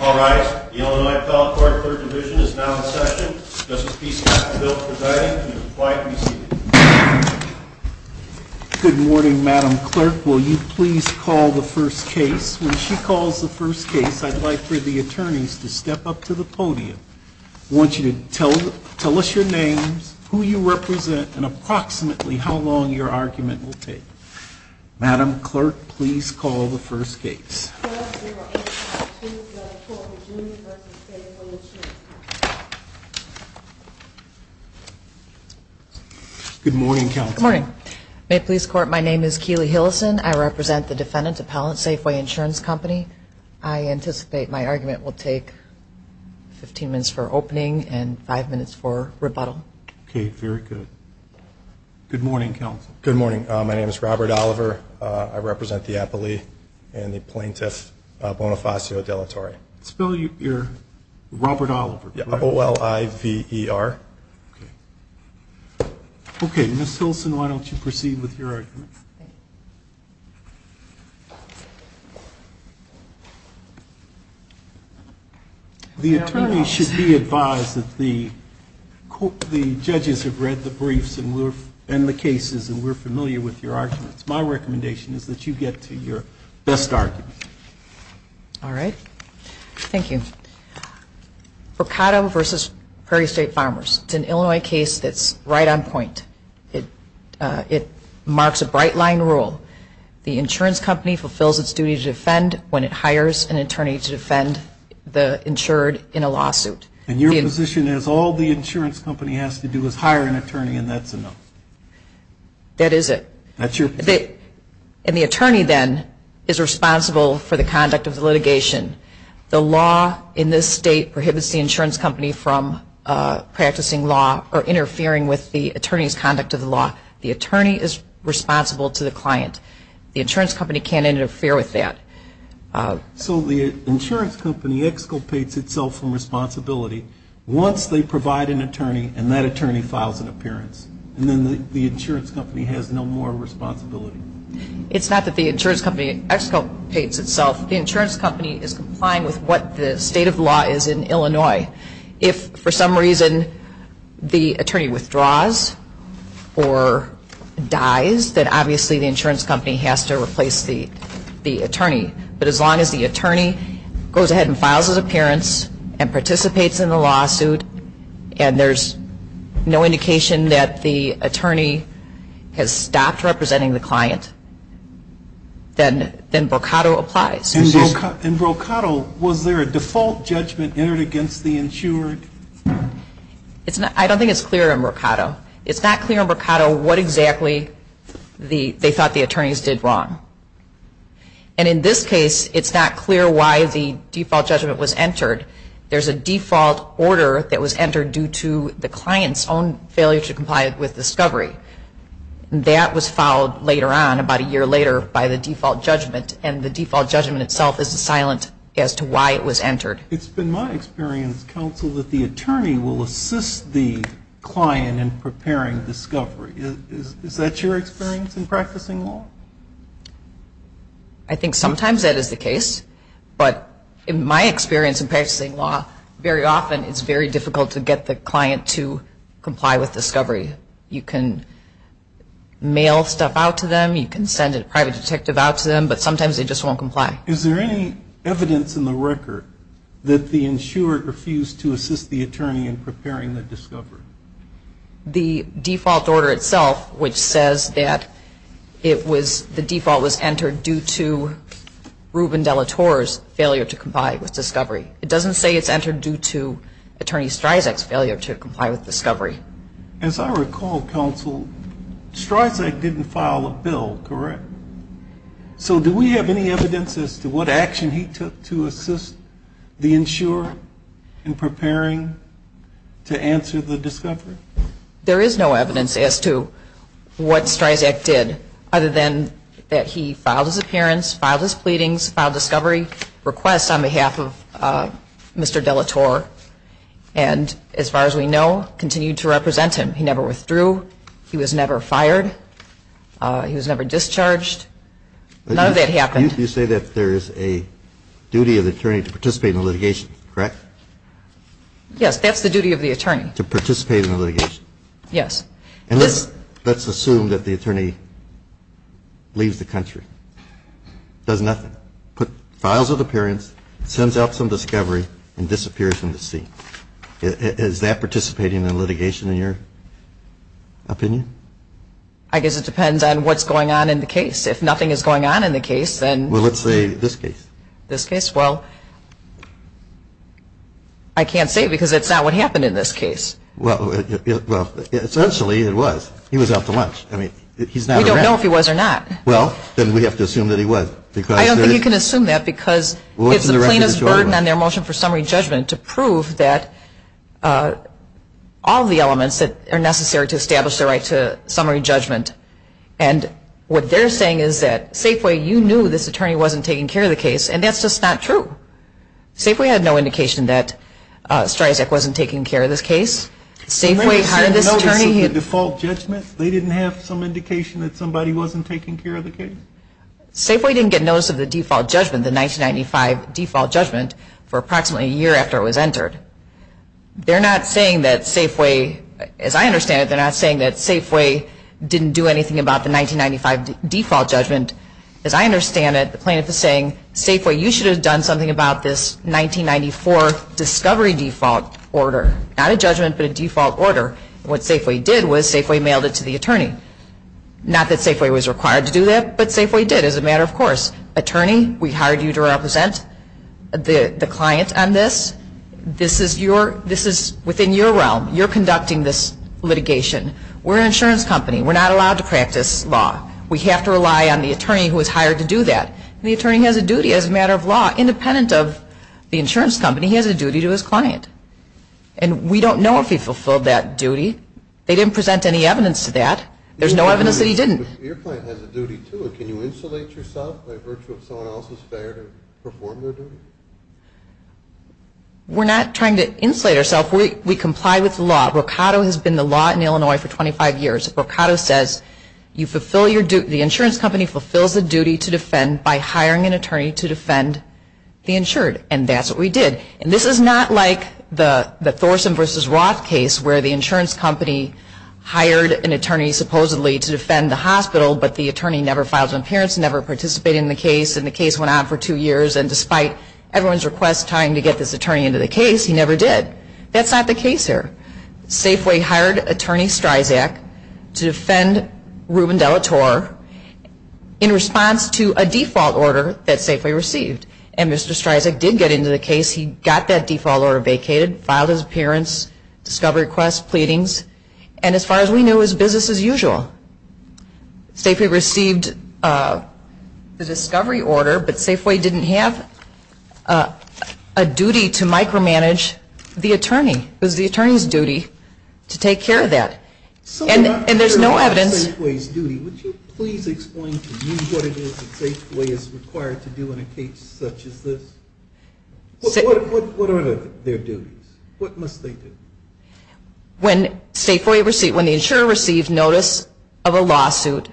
All rise. The Illinois Appellate Court, 3rd Division is now in session. Justice Peacecoff, the bill is presiding. Please be quiet when you see it. Good morning, Madam Clerk. Will you please call the first case? When she calls the first case, I'd like for the attorneys to step up to the podium. I want you to tell us your names, who you represent, and approximately how long your argument will take. Madam Clerk, please call the first case. Good morning, Counsel. Good morning. May it please the Court, my name is Keely Hillison. I represent the defendant, Appellate Safeway Insurance Company. I anticipate my argument will take 15 minutes for opening and 5 minutes for rebuttal. Okay, very good. Good morning, Counsel. Good morning. My name is Robert Oliver. I represent the appellee and the plaintiff, Bonifacio De La Torre. Spell your, your, Robert Oliver, correct? Yeah, O-L-I-V-E-R. Okay, Ms. Hilson, why don't you proceed with your argument? The attorneys should be advised that the judges have read the briefs and the cases and we're familiar with your arguments. My recommendation is that you get to your best argument. All right. Thank you. Mercado v. Prairie State Farmers. It's an Illinois case that's right on point. It, it marks a bright line rule. The insurance company fulfills its duty to defend when it hires an attorney to defend the insured in a lawsuit. And your position is all the insurance company has to do is hire an attorney and that's enough? That is it. That's your position? And the attorney then is responsible for the conduct of the litigation. The law in this state prohibits the insurance company from practicing law or interfering with the attorney's conduct of the law. The attorney is responsible to the client. The insurance company can't interfere with that. So the insurance company exculpates itself from responsibility once they provide an attorney and that attorney files an appearance. And then the insurance company has no more responsibility? It's not that the insurance company exculpates itself. The insurance company is complying with what the state of the law is in Illinois. If for some reason the attorney withdraws or dies, then obviously the insurance company has to replace the attorney. But as long as the attorney goes ahead and files his appearance and participates in the lawsuit and there's no indication that the attorney has stopped representing the client, then brocado applies. In brocado, was there a default judgment entered against the insured? I don't think it's clear in brocado. It's not clear in brocado what exactly they thought the attorneys did wrong. And in this case, it's not clear why the default judgment was entered. There's a default order that was entered due to the client's own failure to comply with discovery. That was filed later on, about a year later, by the default judgment. And the default judgment itself is silent as to why it was entered. It's been my experience, counsel, that the attorney will assist the client in preparing discovery. Is that your experience in practicing law? I think sometimes that is the case. But in my experience in practicing law, very often it's very difficult to get the client to comply with discovery. You can mail stuff out to them. You can send a private detective out to them. But sometimes they just won't comply. Is there any evidence in the record that the insured refused to assist the attorney in preparing the discovery? The default order itself, which says that the default was entered due to Ruben De La Torre's failure to comply with discovery. It doesn't say it's entered due to Attorney Streisack's failure to comply with discovery. As I recall, counsel, Streisack didn't file a bill, correct? So do we have any evidence as to what action he took to assist the insurer in preparing to answer the discovery? There is no evidence as to what Streisack did other than that he filed his appearance, filed his pleadings, filed discovery requests on behalf of Mr. De La Torre and, as far as we know, continued to represent him. He never withdrew. He was never fired. He was never discharged. None of that happened. You say that there is a duty of the attorney to participate in the litigation, correct? Yes, that's the duty of the attorney. To participate in the litigation. Yes. And let's assume that the attorney leaves the country, does nothing, files an appearance, sends out some discovery and disappears from the scene. Is that participating in the litigation, in your opinion? I guess it depends on what's going on in the case. If nothing is going on in the case, then. Well, let's say this case. This case? Well, I can't say because it's not what happened in this case. Well, essentially it was. He was out to lunch. I mean, he's not around. We don't know if he was or not. Well, then we have to assume that he was. I don't think you can assume that because it's the plainest burden on their motion for summary judgment to prove that all of the elements that are necessary to establish the right to summary judgment. And what they're saying is that, Safeway, you knew this attorney wasn't taking care of the case, and that's just not true. Safeway had no indication that Streisand wasn't taking care of this case. Safeway hired this attorney. Didn't they get notice of the default judgment? They didn't have some indication that somebody wasn't taking care of the case? Safeway didn't get notice of the default judgment, the 1995 default judgment, for approximately a year after it was entered. They're not saying that Safeway, as I understand it, they're not saying that Safeway didn't do anything about the 1995 default judgment. As I understand it, the plaintiff is saying, Safeway, you should have done something about this 1994 discovery default order. Not a judgment, but a default order. What Safeway did was Safeway mailed it to the attorney. Not that Safeway was required to do that, but Safeway did as a matter of course. Attorney, we hired you to represent the client on this. This is within your realm. You're conducting this litigation. We're an insurance company. We're not allowed to practice law. We have to rely on the attorney who was hired to do that. The attorney has a duty as a matter of law. Independent of the insurance company, he has a duty to his client. And we don't know if he fulfilled that duty. They didn't present any evidence to that. There's no evidence that he didn't. Your client has a duty, too. Can you insulate yourself by virtue of someone else's failure to perform their duty? We're not trying to insulate ourselves. We comply with the law. Mercado has been the law in Illinois for 25 years. Mercado says the insurance company fulfills the duty to defend by hiring an attorney to defend the insured. And that's what we did. And this is not like the Thorson v. Roth case where the insurance company hired an attorney supposedly to defend the hospital, but the attorney never filed an appearance, never participated in the case, and the case went on for two years. And despite everyone's request trying to get this attorney into the case, he never did. That's not the case here. Safeway hired attorney Streisack to defend Ruben De La Torre in response to a default order that Safeway received. And Mr. Streisack did get into the case. He got that default order vacated, filed his appearance, discovery request, pleadings, and as far as we knew, his business as usual. Safeway received the discovery order, but Safeway didn't have a duty to micromanage the attorney. It was the attorney's duty to take care of that. And there's no evidence. So we're not sure about Safeway's duty. Would you please explain to me what it is that Safeway is required to do in a case such as this? What are their duties? What must they do? When the insurer receives notice of a lawsuit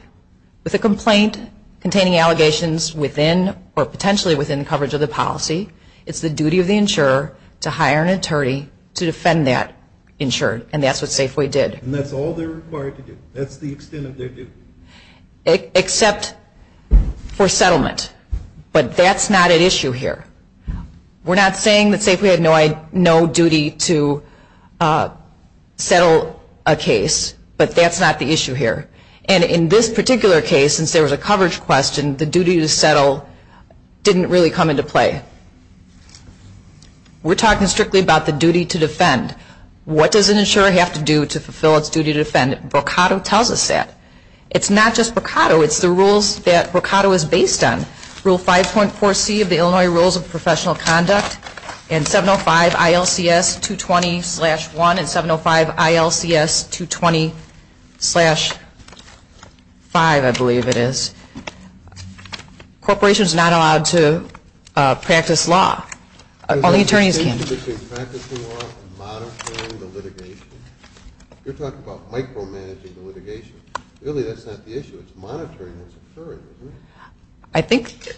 with a complaint containing allegations within or potentially within coverage of the policy, it's the duty of the insurer to hire an attorney to defend that insured. And that's what Safeway did. And that's all they're required to do? That's the extent of their duty? Except for settlement. But that's not at issue here. We're not saying that Safeway had no duty to settle a case, but that's not the issue here. And in this particular case, since there was a coverage question, the duty to settle didn't really come into play. We're talking strictly about the duty to defend. What does an insurer have to do to fulfill its duty to defend? Brocado tells us that. It's not just Brocado. It's the rules that Brocado is based on. Rule 5.4C of the Illinois Rules of Professional Conduct and 705 ILCS 220-1 and 705 ILCS 220-5, I believe it is. Corporations are not allowed to practice law. Only attorneys can. Practicing law and monitoring the litigation? You're talking about micromanaging the litigation. Really, that's not the issue. It's monitoring what's occurring, isn't it? I think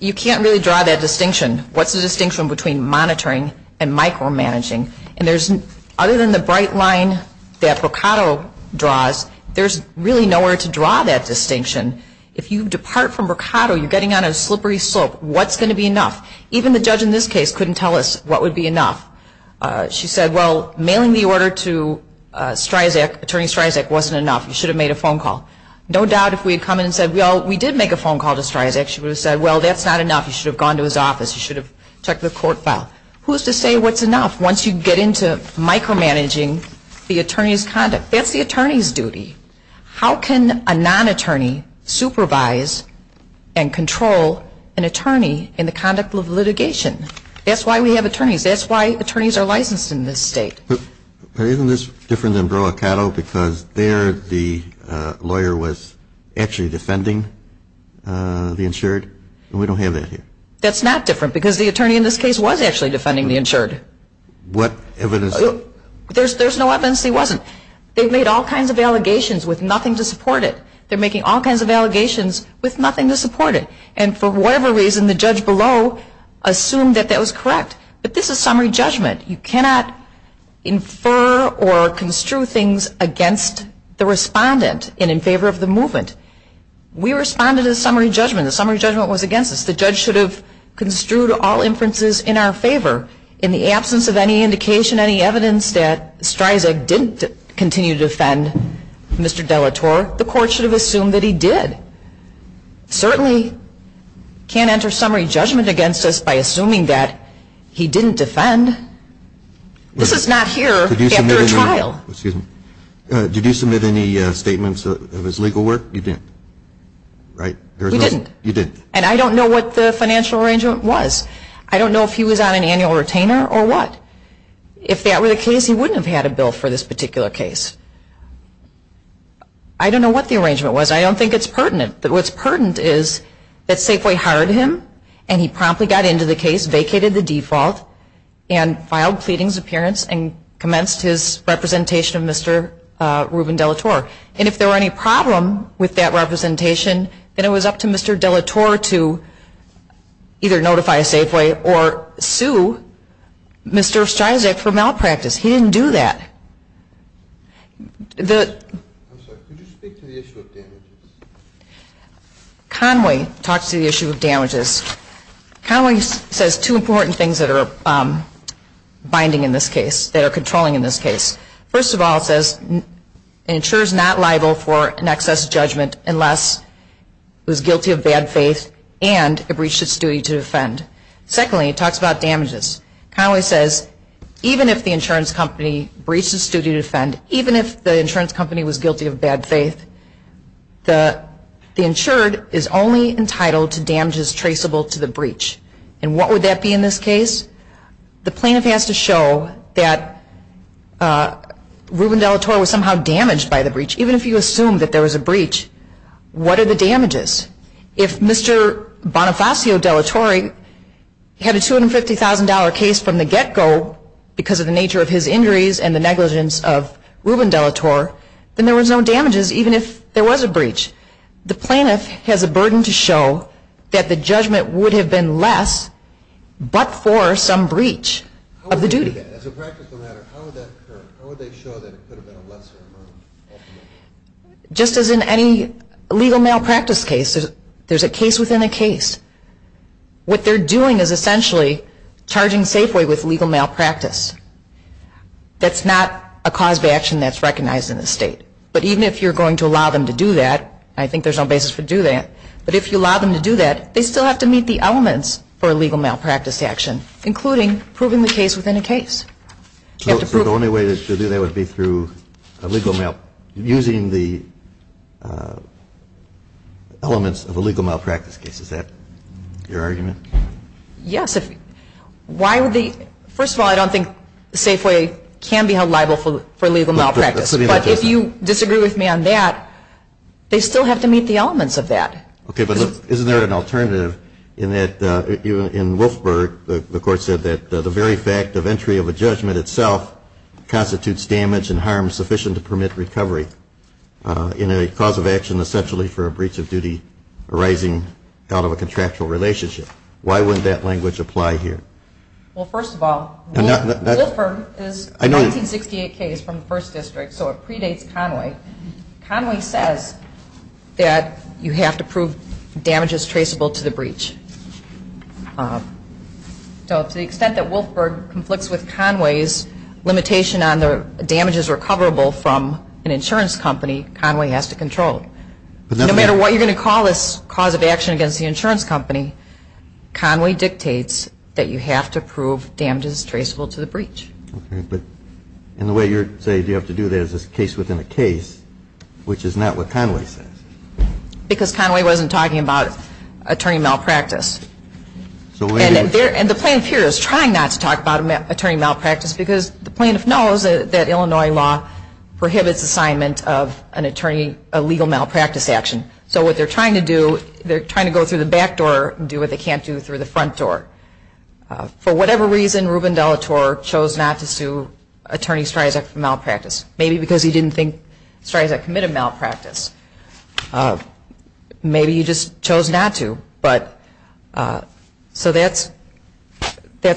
you can't really draw that distinction. What's the distinction between monitoring and micromanaging? And there's, other than the bright line that Brocado draws, there's really nowhere to draw that distinction. If you depart from Brocado, you're getting on a slippery slope. What's going to be enough? Even the judge in this case couldn't tell us what would be enough. She said, well, mailing the order to Stryzak, Attorney Stryzak, wasn't enough. You should have made a phone call. No doubt if we had come in and said, well, we did make a phone call to Stryzak, she would have said, well, that's not enough. You should have gone to his office. You should have checked the court file. Who's to say what's enough once you get into micromanaging the attorney's conduct? That's the attorney's duty. How can a non-attorney supervise and control an attorney in the conduct of litigation? That's why we have attorneys. That's why attorneys are licensed in this state. But isn't this different than Brocado because there the lawyer was actually defending the insured? We don't have that here. That's not different because the attorney in this case was actually defending the insured. What evidence? There's no evidence he wasn't. They've made all kinds of allegations with nothing to support it. They're making all kinds of allegations with nothing to support it. And for whatever reason, the judge below assumed that that was correct. But this is summary judgment. You cannot infer or construe things against the respondent and in favor of the movement. We responded to the summary judgment. The summary judgment was against us. The judge should have construed all inferences in our favor. In the absence of any indication, any evidence that Streisand didn't continue to defend Mr. Delatorre, the court should have assumed that he did. Certainly can't enter summary judgment against us by assuming that he didn't defend. This is not here after a trial. Excuse me. Did you submit any statements of his legal work? You didn't, right? We didn't. You didn't. And I don't know what the financial arrangement was. I don't know if he was on an annual retainer or what. If that were the case, he wouldn't have had a bill for this particular case. I don't know what the arrangement was. I don't think it's pertinent. But what's pertinent is that Safeway hired him and he promptly got into the case, vacated the default, and filed pleadings appearance and commenced his representation of Mr. Ruben Delatorre. And if there were any problem with that representation, then it was up to Mr. Delatorre to either notify Safeway or sue Mr. Streisand for malpractice. He didn't do that. I'm sorry. Could you speak to the issue of damages? Conway talks to the issue of damages. Conway says two important things that are binding in this case, that are controlling in this case. First of all, it says an insurer is not liable for an excess judgment unless it was guilty of bad faith and it breached its duty to defend. Secondly, it talks about damages. Conway says even if the insurance company breached its duty to defend, even if the insurance company was guilty of bad faith, the insured is only entitled to damages traceable to the breach. And what would that be in this case? The plaintiff has to show that Ruben Delatorre was somehow damaged by the breach. Even if you assume that there was a breach, what are the damages? If Mr. Bonifacio Delatorre had a $250,000 case from the get-go because of the nature of his injuries and the negligence of Ruben Delatorre, then there was no damages even if there was a breach. The plaintiff has a burden to show that the judgment would have been less but for some breach of the duty. As a practical matter, how would that occur? How would they show that it could have been a lesser amount? Just as in any legal malpractice case, there's a case within a case. What they're doing is essentially charging Safeway with legal malpractice. That's not a cause of action that's recognized in the state. But even if you're going to allow them to do that, I think there's no basis for do that, but if you allow them to do that, they still have to meet the elements for a legal malpractice action, including proving the case within a case. So the only way to do that would be through using the elements of a legal malpractice case. Is that your argument? Yes. First of all, I don't think Safeway can be held liable for legal malpractice. But if you disagree with me on that, they still have to meet the elements of that. Okay, but isn't there an alternative in that in Wolfburg, the court said that the very fact of entry of a judgment itself constitutes damage and harm sufficient to permit recovery in a cause of action essentially for a breach of duty arising out of a contractual relationship. Why wouldn't that language apply here? Well, first of all, Wolfburg is a 1968 case from the first district, so it predates Conway. Conway says that you have to prove damage is traceable to the breach. So to the extent that Wolfburg conflicts with Conway's limitation on the damage is recoverable from an insurance company, Conway has to control it. No matter what you're going to call this cause of action against the insurance company, Conway dictates that you have to prove damage is traceable to the breach. Okay, but in the way you're saying you have to do that, is this case within a case, which is not what Conway says? Because Conway wasn't talking about attorney malpractice. And the plaintiff here is trying not to talk about attorney malpractice because the plaintiff knows that Illinois law prohibits assignment of an attorney, a legal malpractice action. So what they're trying to do, they're trying to go through the back door and do what they can't do through the front door. For whatever reason, Ruben Delatorre chose not to sue attorney Streisand for malpractice, maybe because he didn't think Streisand committed malpractice. Maybe he just chose not to. So that's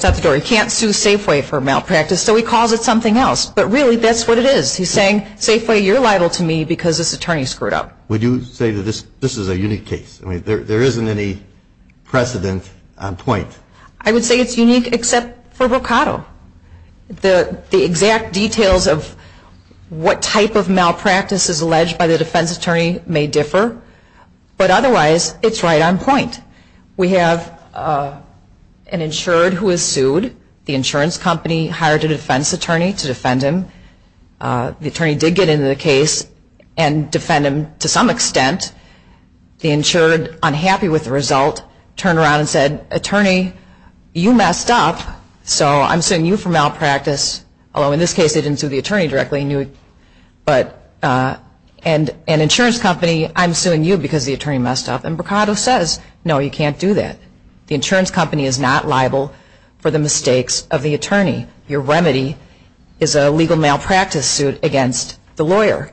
out the door. He can't sue Safeway for malpractice, so he calls it something else. But really, that's what it is. He's saying, Safeway, you're liable to me because this attorney screwed up. Would you say that this is a unique case? There isn't any precedent on point. I would say it's unique except for Boccato. The exact details of what type of malpractice is alleged by the defense attorney may differ. But otherwise, it's right on point. We have an insured who is sued. The insurance company hired a defense attorney to defend him. The attorney did get into the case and defend him to some extent. The insured, unhappy with the result, turned around and said, attorney, you messed up, so I'm suing you for malpractice, although in this case they didn't sue the attorney directly. And insurance company, I'm suing you because the attorney messed up. And Boccato says, no, you can't do that. The insurance company is not liable for the mistakes of the attorney. Your remedy is a legal malpractice suit against the lawyer.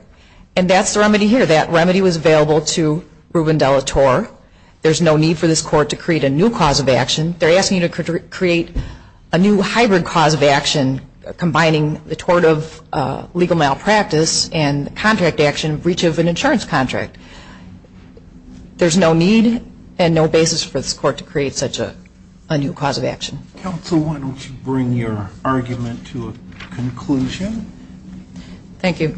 And that's the remedy here. That remedy was available to Ruben De La Torre. There's no need for this court to create a new cause of action. They're asking you to create a new hybrid cause of action combining the tort of legal malpractice and contract action, breach of an insurance contract. There's no need and no basis for this court to create such a new cause of action. Counsel, why don't you bring your argument to a conclusion? Thank you.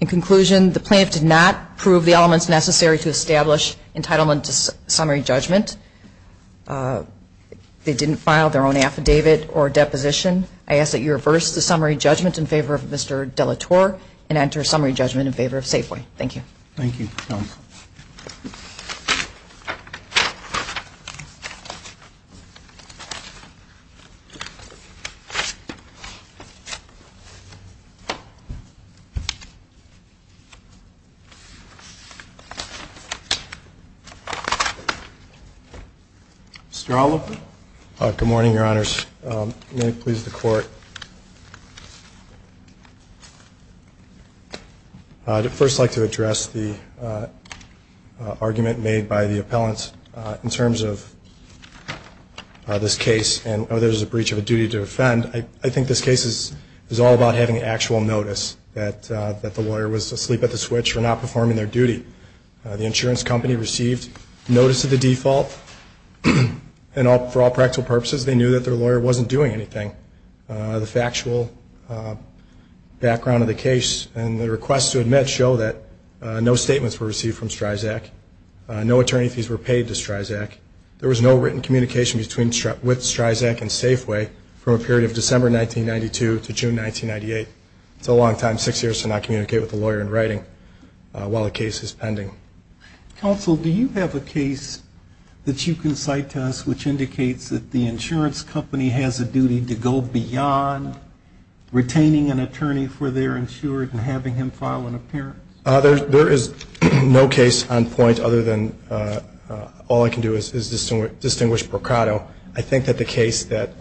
In conclusion, the plaintiff did not prove the elements necessary to establish entitlement to summary judgment. They didn't file their own affidavit or deposition. I ask that you reverse the summary judgment in favor of Mr. De La Torre and enter summary judgment in favor of Safeway. Thank you. Thank you, counsel. Mr. Allo? Good morning, Your Honors. May it please the Court. I'd first like to address the argument made by the appellant in terms of this case and whether there's a breach of a duty to offend. I think this case is all about having actual notice that the lawyer was asleep at the switch for not performing their duty. The insurance company received notice of the default, and for all practical purposes, they knew that their lawyer wasn't doing anything. The factual background of the case and the request to admit show that no statements were received from STRIZAC. No attorney fees were paid to STRIZAC. There was no written communication with STRIZAC and Safeway from a period of December 1992 to June 1998. It's a long time, six years, to not communicate with a lawyer in writing while a case is pending. Counsel, do you have a case that you can cite to us which indicates that the insurance company has a duty to go beyond retaining an attorney for their insurance and having him file an appearance? There is no case on point other than all I can do is distinguish Boccato. I think that the case that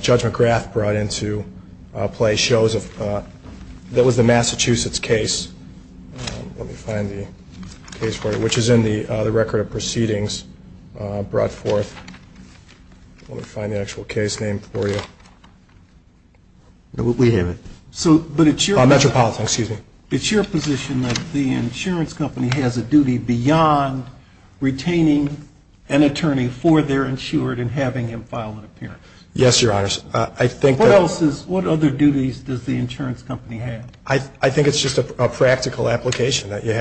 Judge McGrath brought into play shows that was the Massachusetts case. Let me find the case for you, which is in the record of proceedings brought forth. Let me find the actual case name for you. We have it. Metropolitan, excuse me. It's your position that the insurance company has a duty beyond retaining an attorney for their insurance and having him file an appearance? Yes, Your Honor. What other duties does the insurance company have? I think it's just a practical application that you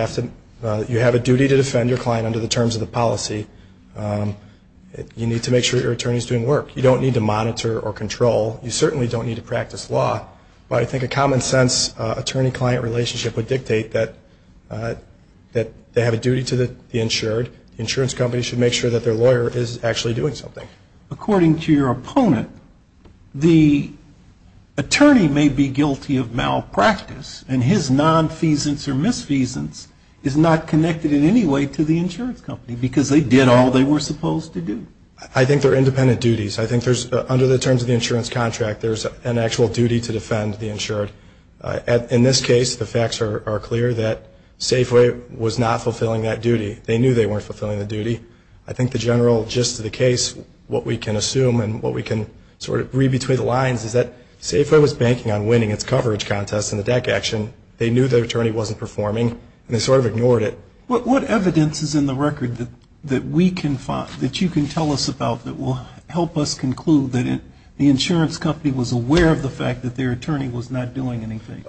have a duty to defend your client under the terms of the policy. You need to make sure your attorney is doing work. You don't need to monitor or control. You certainly don't need to practice law, but I think a common sense attorney-client relationship would dictate that they have a duty to the insured. The insurance company should make sure that their lawyer is actually doing something. According to your opponent, the attorney may be guilty of malpractice, and his nonfeasance or misfeasance is not connected in any way to the insurance company because they did all they were supposed to do. I think they're independent duties. I think there's, under the terms of the insurance contract, there's an actual duty to defend the insured. In this case, the facts are clear that Safeway was not fulfilling that duty. They knew they weren't fulfilling the duty. I think the general gist of the case, what we can assume and what we can sort of read between the lines is that Safeway was banking on winning its coverage contest in the DEC action. They knew their attorney wasn't performing, and they sort of ignored it. What evidence is in the record that you can tell us about that will help us conclude that the insurance company was aware of the fact that their attorney was not doing anything?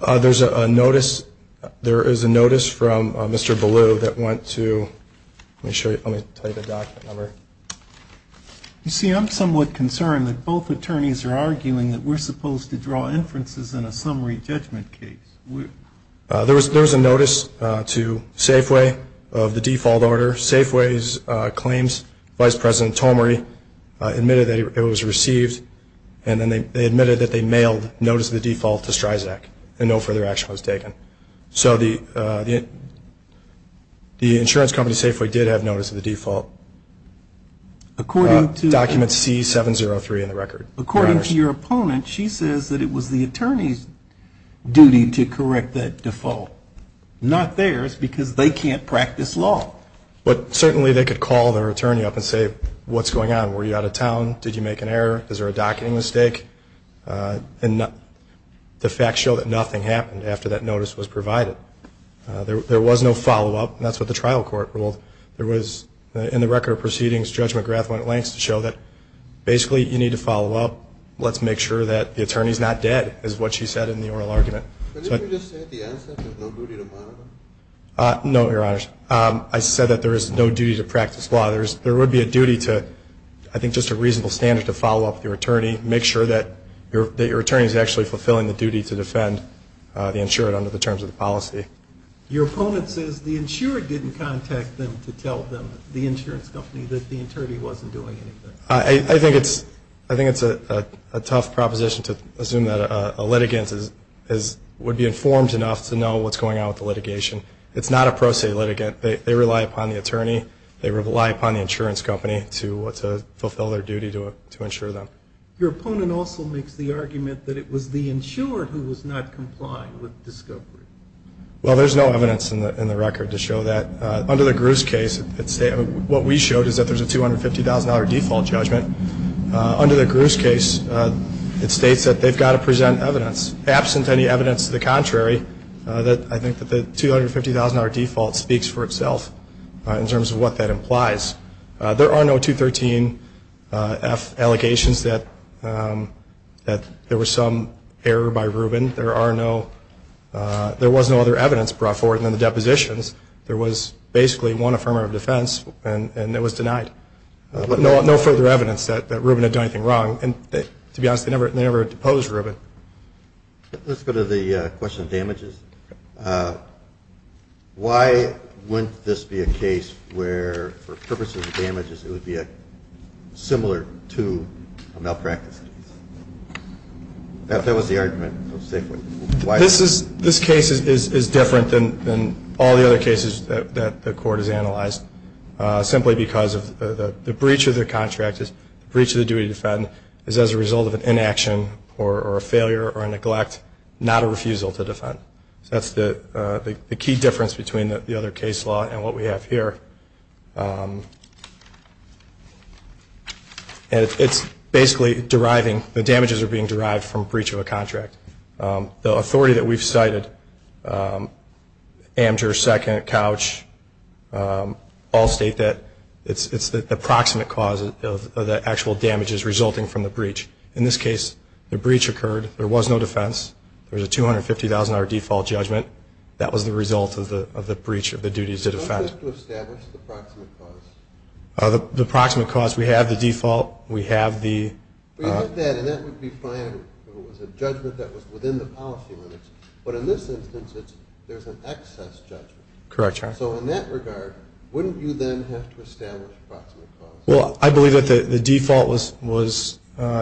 There is a notice from Mr. Ballew that went to ‑‑ let me show you. Let me tell you the document number. You see, I'm somewhat concerned that both attorneys are arguing that we're supposed to draw inferences in a summary judgment case. There was a notice to Safeway of the default order. Safeway's claims, Vice President Tomeri admitted that it was received, and then they admitted that they mailed notice of the default to Stryzak and no further action was taken. So the insurance company, Safeway, did have notice of the default, document C703 in the record. According to your opponent, she says that it was the attorney's duty to correct that default, not theirs, because they can't practice law. But certainly they could call their attorney up and say, what's going on? Were you out of town? Did you make an error? Is there a docketing mistake? And the facts show that nothing happened after that notice was provided. There was no follow‑up, and that's what the trial court ruled. There was, in the record of proceedings, Judge McGrath went at lengths to show that basically you need to follow up, let's make sure that the attorney's not dead, is what she said in the oral argument. But didn't you just say at the outset there's no duty to monitor? No, Your Honors. I said that there is no duty to practice law. There would be a duty to, I think just a reasonable standard to follow up with your attorney, make sure that your attorney is actually fulfilling the duty to defend the insured under the terms of the policy. Your opponent says the insured didn't contact them to tell them, the insurance company, that the attorney wasn't doing anything. I think it's a tough proposition to assume that a litigant would be informed enough to know what's going on with the litigation. It's not a pro se litigant. They rely upon the attorney. They rely upon the insurance company to fulfill their duty to insure them. Your opponent also makes the argument that it was the insured who was not complying with discovery. Well, there's no evidence in the record to show that. Under the Gruse case, what we showed is that there's a $250,000 default judgment. Under the Gruse case, it states that they've got to present evidence. Absent any evidence to the contrary, I think that the $250,000 default speaks for itself in terms of what that implies. There are no 213F allegations that there was some error by Rubin. There was no other evidence brought forward in the depositions. There was basically one affirmer of defense, and it was denied. No further evidence that Rubin had done anything wrong. To be honest, they never deposed Rubin. Let's go to the question of damages. Why wouldn't this be a case where, for purposes of damages, it would be similar to a malpractice case? That was the argument. This case is different than all the other cases that the court has analyzed, simply because of the breach of the contract, the breach of the duty to defend, is as a result of an inaction or a failure or a neglect, not a refusal to defend. So that's the key difference between the other case law and what we have here. It's basically deriving, the damages are being derived from breach of a contract. The authority that we've cited, Amateur, Second, Couch, all state that it's the proximate cause of the actual damages resulting from the breach. In this case, the breach occurred. There was no defense. There was a $250,000 default judgment. That was the result of the breach of the duties to defend. You don't have to establish the proximate cause. The proximate cause, we have the default. We have the – We have that, and that would be fine if it was a judgment that was within the policy limits. But in this instance, there's an excess judgment. Correct, Your Honor. So in that regard, wouldn't you then have to establish proximate cause? Well, I believe that the default was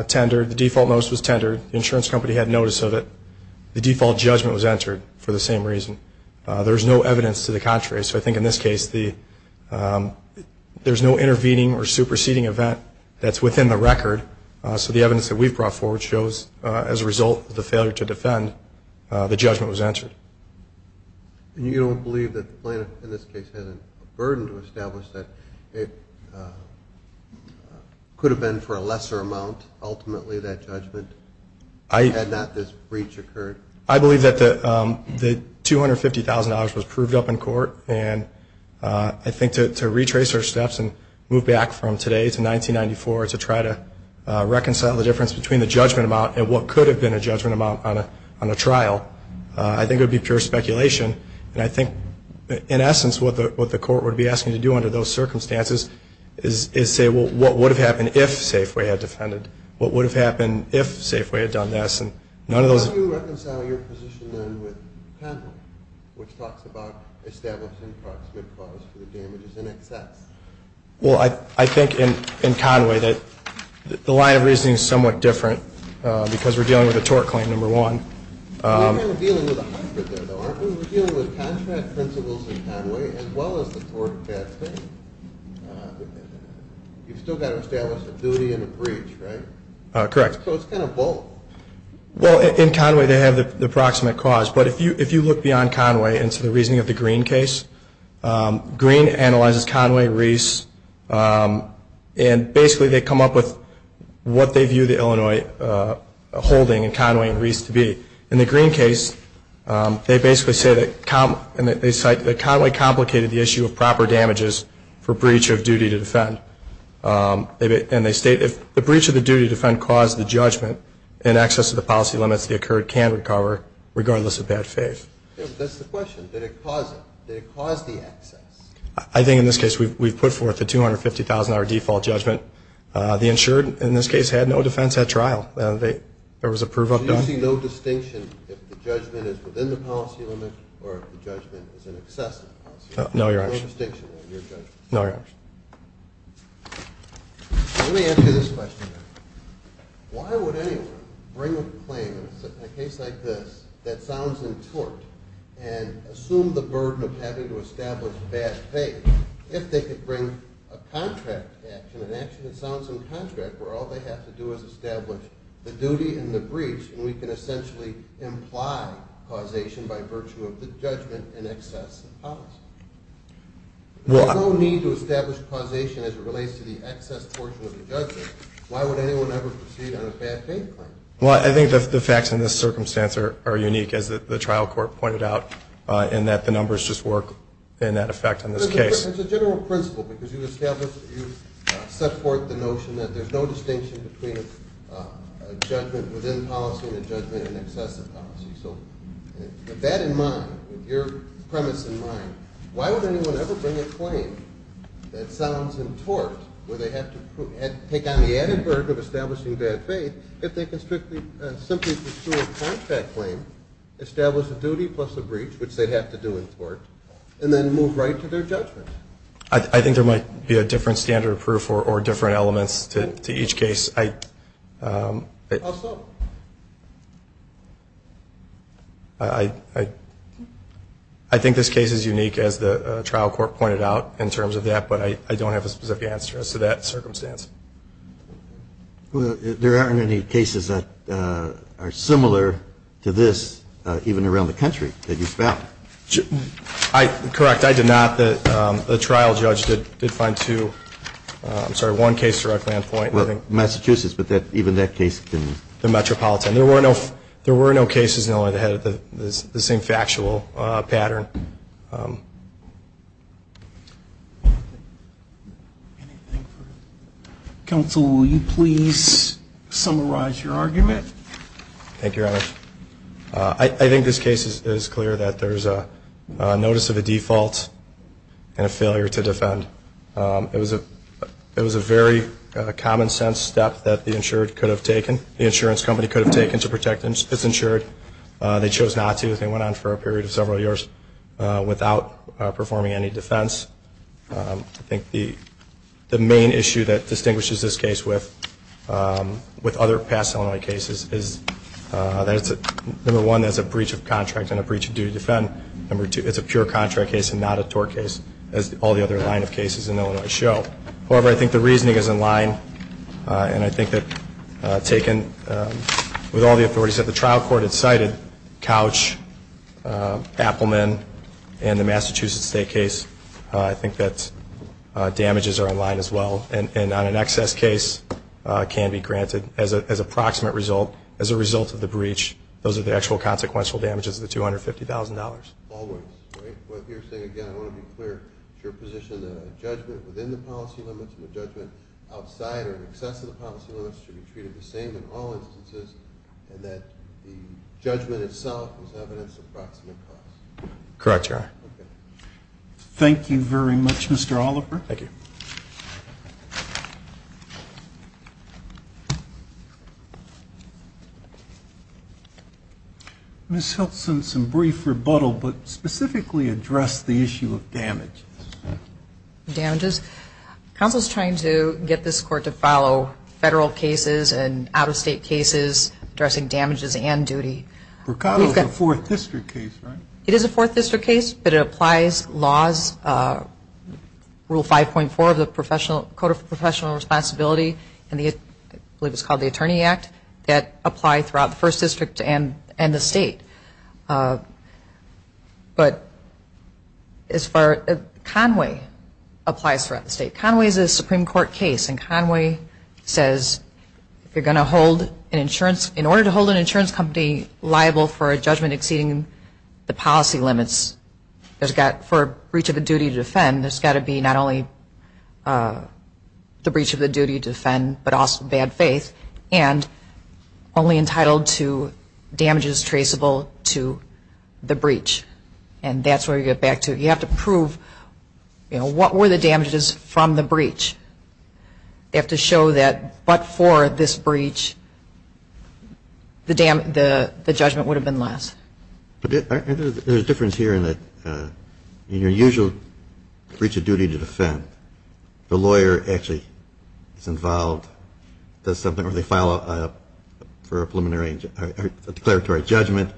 tendered. The default notice was tendered. The insurance company had notice of it. The default judgment was entered for the same reason. There's no evidence to the contrary. So I think in this case, there's no intervening or superseding event that's within the record. So the evidence that we've brought forward shows, as a result of the failure to defend, the judgment was entered. You don't believe that the plaintiff, in this case, had a burden to establish that it could have been for a lesser amount, ultimately, that judgment, had not this breach occurred? I believe that the $250,000 was proved up in court, and I think to retrace our steps and move back from today to 1994 to try to reconcile the difference between the judgment amount and what could have been a judgment amount on a trial, I think it would be pure speculation. And I think, in essence, what the court would be asking to do under those circumstances is say, well, what would have happened if Safeway had defended? What would have happened if Safeway had done this? How do you reconcile your position then with Penwell, which talks about establishing proximate cause for the damages in excess? Well, I think in Conway that the line of reasoning is somewhat different because we're dealing with a tort claim, number one. We're kind of dealing with a hybrid there, though, aren't we? We're dealing with contract principles in Conway as well as the tort that's there. You've still got to establish a duty and a breach, right? Correct. So it's kind of both. Well, in Conway they have the proximate cause, but if you look beyond Conway into the reasoning of the Green case, Green analyzes Conway, Reese, and basically they come up with what they view the Illinois holding in Conway and Reese to be. In the Green case, they basically say that Conway complicated the issue of proper damages for breach of duty to defend. And they state, if the breach of the duty to defend caused the judgment in excess of the policy limits, the occurred can recover, regardless of bad faith. That's the question. Did it cause it? Did it cause the excess? I think in this case we've put forth the $250,000 default judgment. The insured in this case had no defense at trial. There was a prove up done. Do you see no distinction if the judgment is within the policy limit or if the judgment is in excess of the policy limit? No, Your Honor. No distinction in your judgment? No, Your Honor. Let me ask you this question. Why would anyone bring a claim in a case like this that sounds in tort and assume the burden of having to establish bad faith if they could bring a contract action, an action that sounds in contract where all they have to do is establish the duty and the breach and we can essentially imply causation by virtue of the judgment in excess of the policy? There's no need to establish causation as it relates to the excess portion of the judgment. Why would anyone ever proceed on a bad faith claim? Well, I think the facts in this circumstance are unique, as the trial court pointed out, in that the numbers just work in that effect in this case. It's a general principle because you established or you set forth the notion that there's no distinction between a judgment within policy and a judgment in excess of policy. So with that in mind, with your premise in mind, why would anyone ever bring a claim that sounds in tort where they have to take on the added burden of establishing bad faith if they can simply pursue a contract claim, establish a duty plus a breach, which they'd have to do in tort, and then move right to their judgment? I think there might be a different standard of proof or different elements to each case. How so? I think this case is unique, as the trial court pointed out, in terms of that, but I don't have a specific answer as to that circumstance. There aren't any cases that are similar to this, even around the country, that you've found. Correct. I did not. The trial judge did find two. I'm sorry, one case directly on point. Massachusetts, but even that case didn't. The Metropolitan. There were no cases that had the same factual pattern. Counsel, will you please summarize your argument? Thank you, Your Honor. I think this case is clear that there's a notice of a default and a failure to defend. It was a very common sense step that the insurance company could have taken to protect its insured. They chose not to. They went on for a period of several years without performing any defense. I think the main issue that distinguishes this case with other past Illinois cases is that, number one, that's a breach of contract and a breach of duty to defend. Number two, it's a pure contract case and not a tort case, as all the other line of cases in Illinois show. However, I think the reasoning is in line, and I think that taken with all the authorities that the trial court had cited, Couch, Appleman, and the Massachusetts State case, I think that damages are in line as well, and on an excess case can be granted as a proximate result, as a result of the breach. Those are the actual consequential damages of the $250,000. Always, right? What you're saying, again, I want to be clear, is your position that a judgment within the policy limits and a judgment outside or in excess of the policy limits should be treated the same in all instances and that the judgment itself was evidence of proximate cause? Correct, Your Honor. Okay. Thank you very much, Mr. Oliver. Thank you. Ms. Hiltson, some brief rebuttal, but specifically address the issue of damages. Damages? Counsel is trying to get this court to follow federal cases and out-of-state cases addressing damages and duty. Mercado is a Fourth District case, right? It is a Fourth District case, but it applies laws, Rule 5.4, the Code of Professional Responsibility, and I believe it's called the Attorney Act, that apply throughout the First District and the state. But as far as Conway applies throughout the state, Conway is a Supreme Court case, and Conway says if you're going to hold an insurance, in order to hold an insurance company liable for a judgment exceeding the policy limits, for breach of a duty to defend, there's got to be not only the breach of the duty to defend, but also bad faith, and only entitled to damages traceable to the breach. And that's where you get back to, you have to prove, you know, what were the damages from the breach? You have to show that but for this breach, the judgment would have been less. There's a difference here in that in your usual breach of duty to defend, the lawyer actually is involved, does something, or they file for a preliminary or declaratory judgment,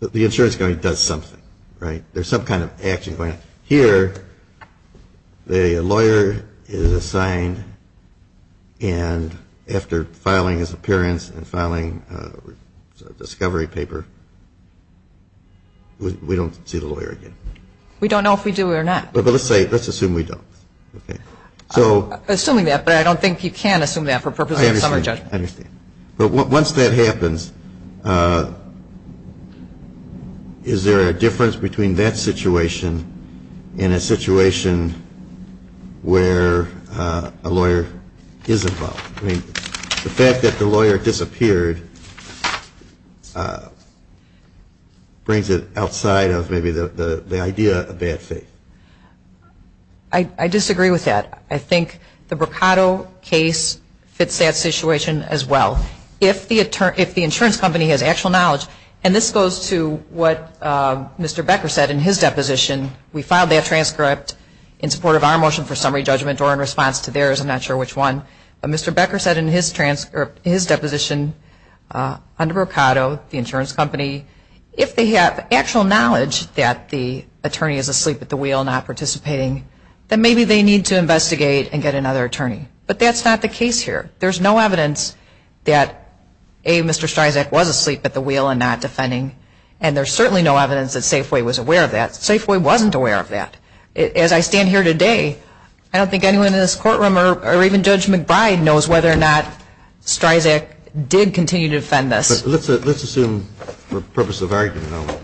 the insurance company does something, right? There's some kind of action going on. Here, the lawyer is assigned, and after filing his appearance and filing a discovery paper, we don't see the lawyer again. We don't know if we do or not. But let's assume we don't. Assuming that, but I don't think you can assume that for purposes of a summary judgment. I understand. But once that happens, is there a difference between that situation and a situation where a lawyer is involved? The fact that the lawyer disappeared brings it outside of maybe the idea of bad faith. I disagree with that. I think the Boccato case fits that situation as well. If the insurance company has actual knowledge, and this goes to what Mr. Becker said in his deposition, we filed that transcript in support of our motion for summary judgment or in response to theirs, I'm not sure which one. But Mr. Becker said in his deposition under Boccato, the insurance company, if they have actual knowledge that the attorney is asleep at the wheel and not participating, then maybe they need to investigate and get another attorney. But that's not the case here. There's no evidence that A, Mr. Streisand was asleep at the wheel and not defending, and there's certainly no evidence that Safeway was aware of that. Safeway wasn't aware of that. As I stand here today, I don't think anyone in this courtroom or even Judge McBride knows whether or not Streisand did continue to defend this. Let's assume for the purpose of argument only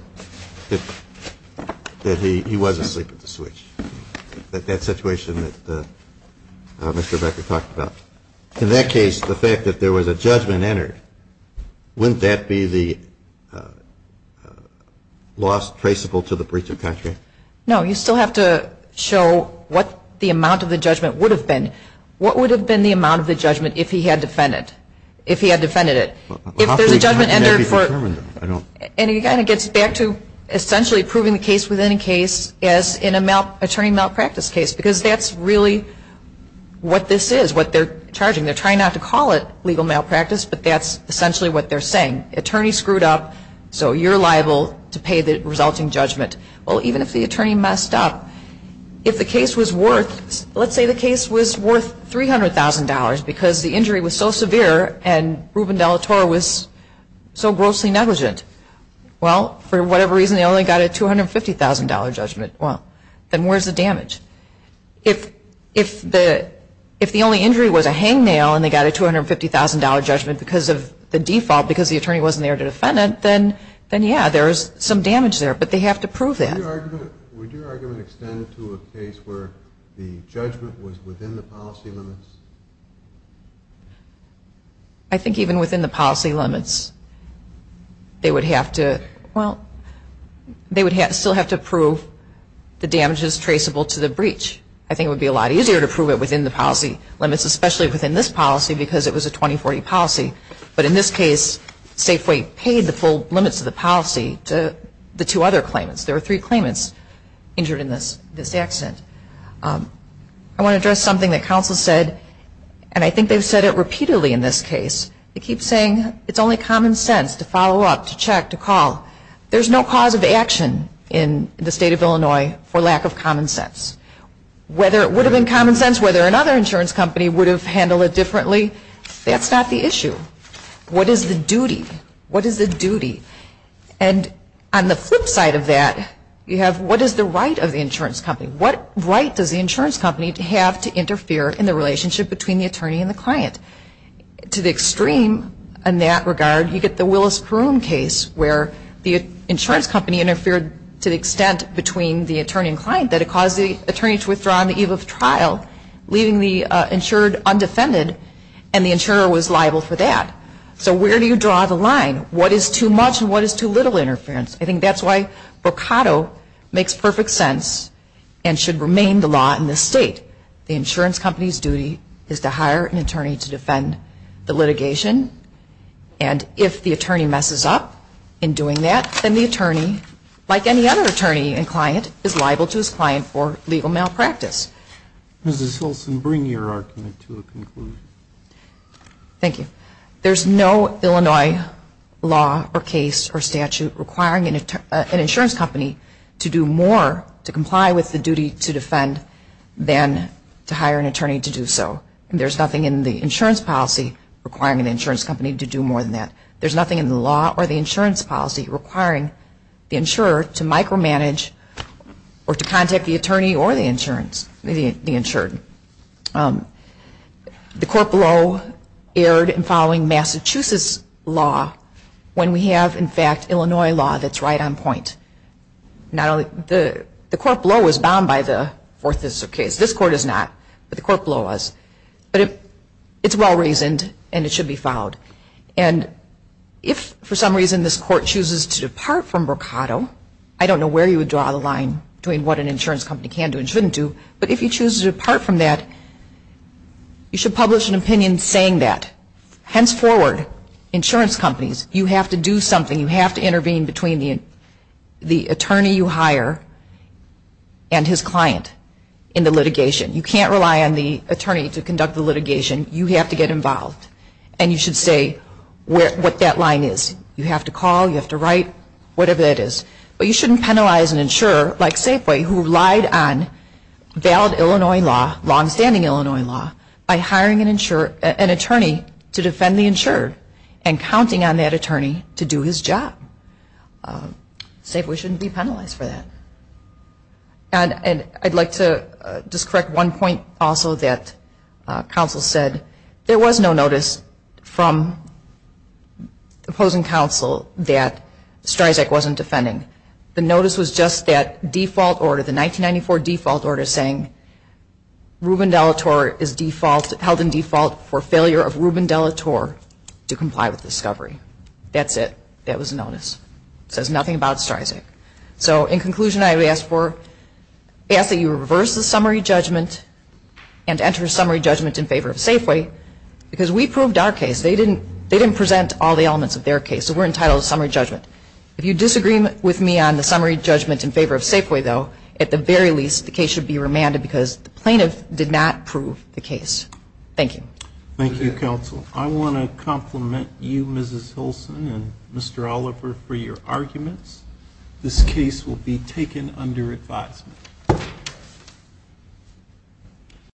that he was asleep at the switch, that situation that Mr. Becker talked about. In that case, the fact that there was a judgment entered, wouldn't that be the loss traceable to the breach of contract? No. You still have to show what the amount of the judgment would have been. What would have been the amount of the judgment if he had defended it? If there's a judgment entered for it, and he kind of gets back to essentially proving the case within a case as an attorney malpractice case because that's really what this is, what they're charging. They're trying not to call it legal malpractice, but that's essentially what they're saying. Attorney screwed up, so you're liable to pay the resulting judgment. Well, even if the attorney messed up, if the case was worth, let's say the case was worth $300,000 because the injury was so severe and Ruben de la Torre was so grossly negligent. Well, for whatever reason, they only got a $250,000 judgment. Well, then where's the damage? If the only injury was a hangnail and they got a $250,000 judgment because of the default, because the attorney wasn't there to defend it, then yeah, there's some damage there. But they have to prove that. Would your argument extend to a case where the judgment was within the policy limits? I think even within the policy limits, they would have to, well, they would still have to prove the damages traceable to the breach. I think it would be a lot easier to prove it within the policy limits, especially within this policy because it was a 2040 policy. But in this case, Safeway paid the full limits of the policy to the two other claimants. There were three claimants injured in this accident. I want to address something that counsel said, and I think they've said it repeatedly in this case. They keep saying it's only common sense to follow up, to check, to call. There's no cause of action in the state of Illinois for lack of common sense. Whether it would have been common sense whether another insurance company would have handled it differently, that's not the issue. What is the duty? What is the duty? And on the flip side of that, you have what is the right of the insurance company? What right does the insurance company have to interfere in the relationship between the attorney and the client? To the extreme in that regard, you get the Willis-Caroom case where the insurance company interfered to the extent between the attorney and client that it caused the attorney to withdraw on the eve of trial, leaving the insured undefended, and the insurer was liable for that. So where do you draw the line? What is too much and what is too little interference? I think that's why Boccato makes perfect sense and should remain the law in this state. The insurance company's duty is to hire an attorney to defend the litigation, and if the attorney messes up in doing that, then the attorney, like any other attorney and client, is liable to his client for legal malpractice. Mrs. Wilson, bring your argument to a conclusion. Thank you. There's no Illinois law or case or statute requiring an insurance company to do more to comply with the duty to defend than to hire an attorney to do so. There's nothing in the insurance policy requiring an insurance company to do more than that. There's nothing in the law or the insurance policy requiring the insurer to micromanage or to contact the attorney or the insured. The court below erred in following Massachusetts law when we have, in fact, Illinois law that's right on point. The court below is bound by the Fourth District case. This court is not, but the court below is. But it's well-reasoned and it should be followed. And if, for some reason, this court chooses to depart from Mercado, I don't know where you would draw the line between what an insurance company can do and shouldn't do, but if you choose to depart from that, you should publish an opinion saying that. Henceforward, insurance companies, you have to do something. You have to intervene between the attorney you hire and his client in the litigation. You can't rely on the attorney to conduct the litigation. You have to get involved. And you should say what that line is. You have to call. You have to write, whatever that is. But you shouldn't penalize an insurer, like Safeway, who relied on valid Illinois law, longstanding Illinois law, by hiring an attorney to defend the insured and counting on that attorney to do his job. Safeway shouldn't be penalized for that. And I'd like to just correct one point, also, that counsel said. There was no notice from opposing counsel that Stryzak wasn't defending. The notice was just that default order, the 1994 default order, saying Ruben De La Torre is held in default for failure of Ruben De La Torre to comply with discovery. That's it. That was the notice. It says nothing about Stryzak. So, in conclusion, I would ask that you reverse the summary judgment and enter summary judgment in favor of Safeway because we proved our case. They didn't present all the elements of their case, so we're entitled to summary judgment. If you disagree with me on the summary judgment in favor of Safeway, though, at the very least the case should be remanded because the plaintiff did not prove the case. Thank you. Thank you, counsel. I want to compliment you, Mrs. Hilson, and Mr. Oliver, for your arguments. This case will be taken under advisement.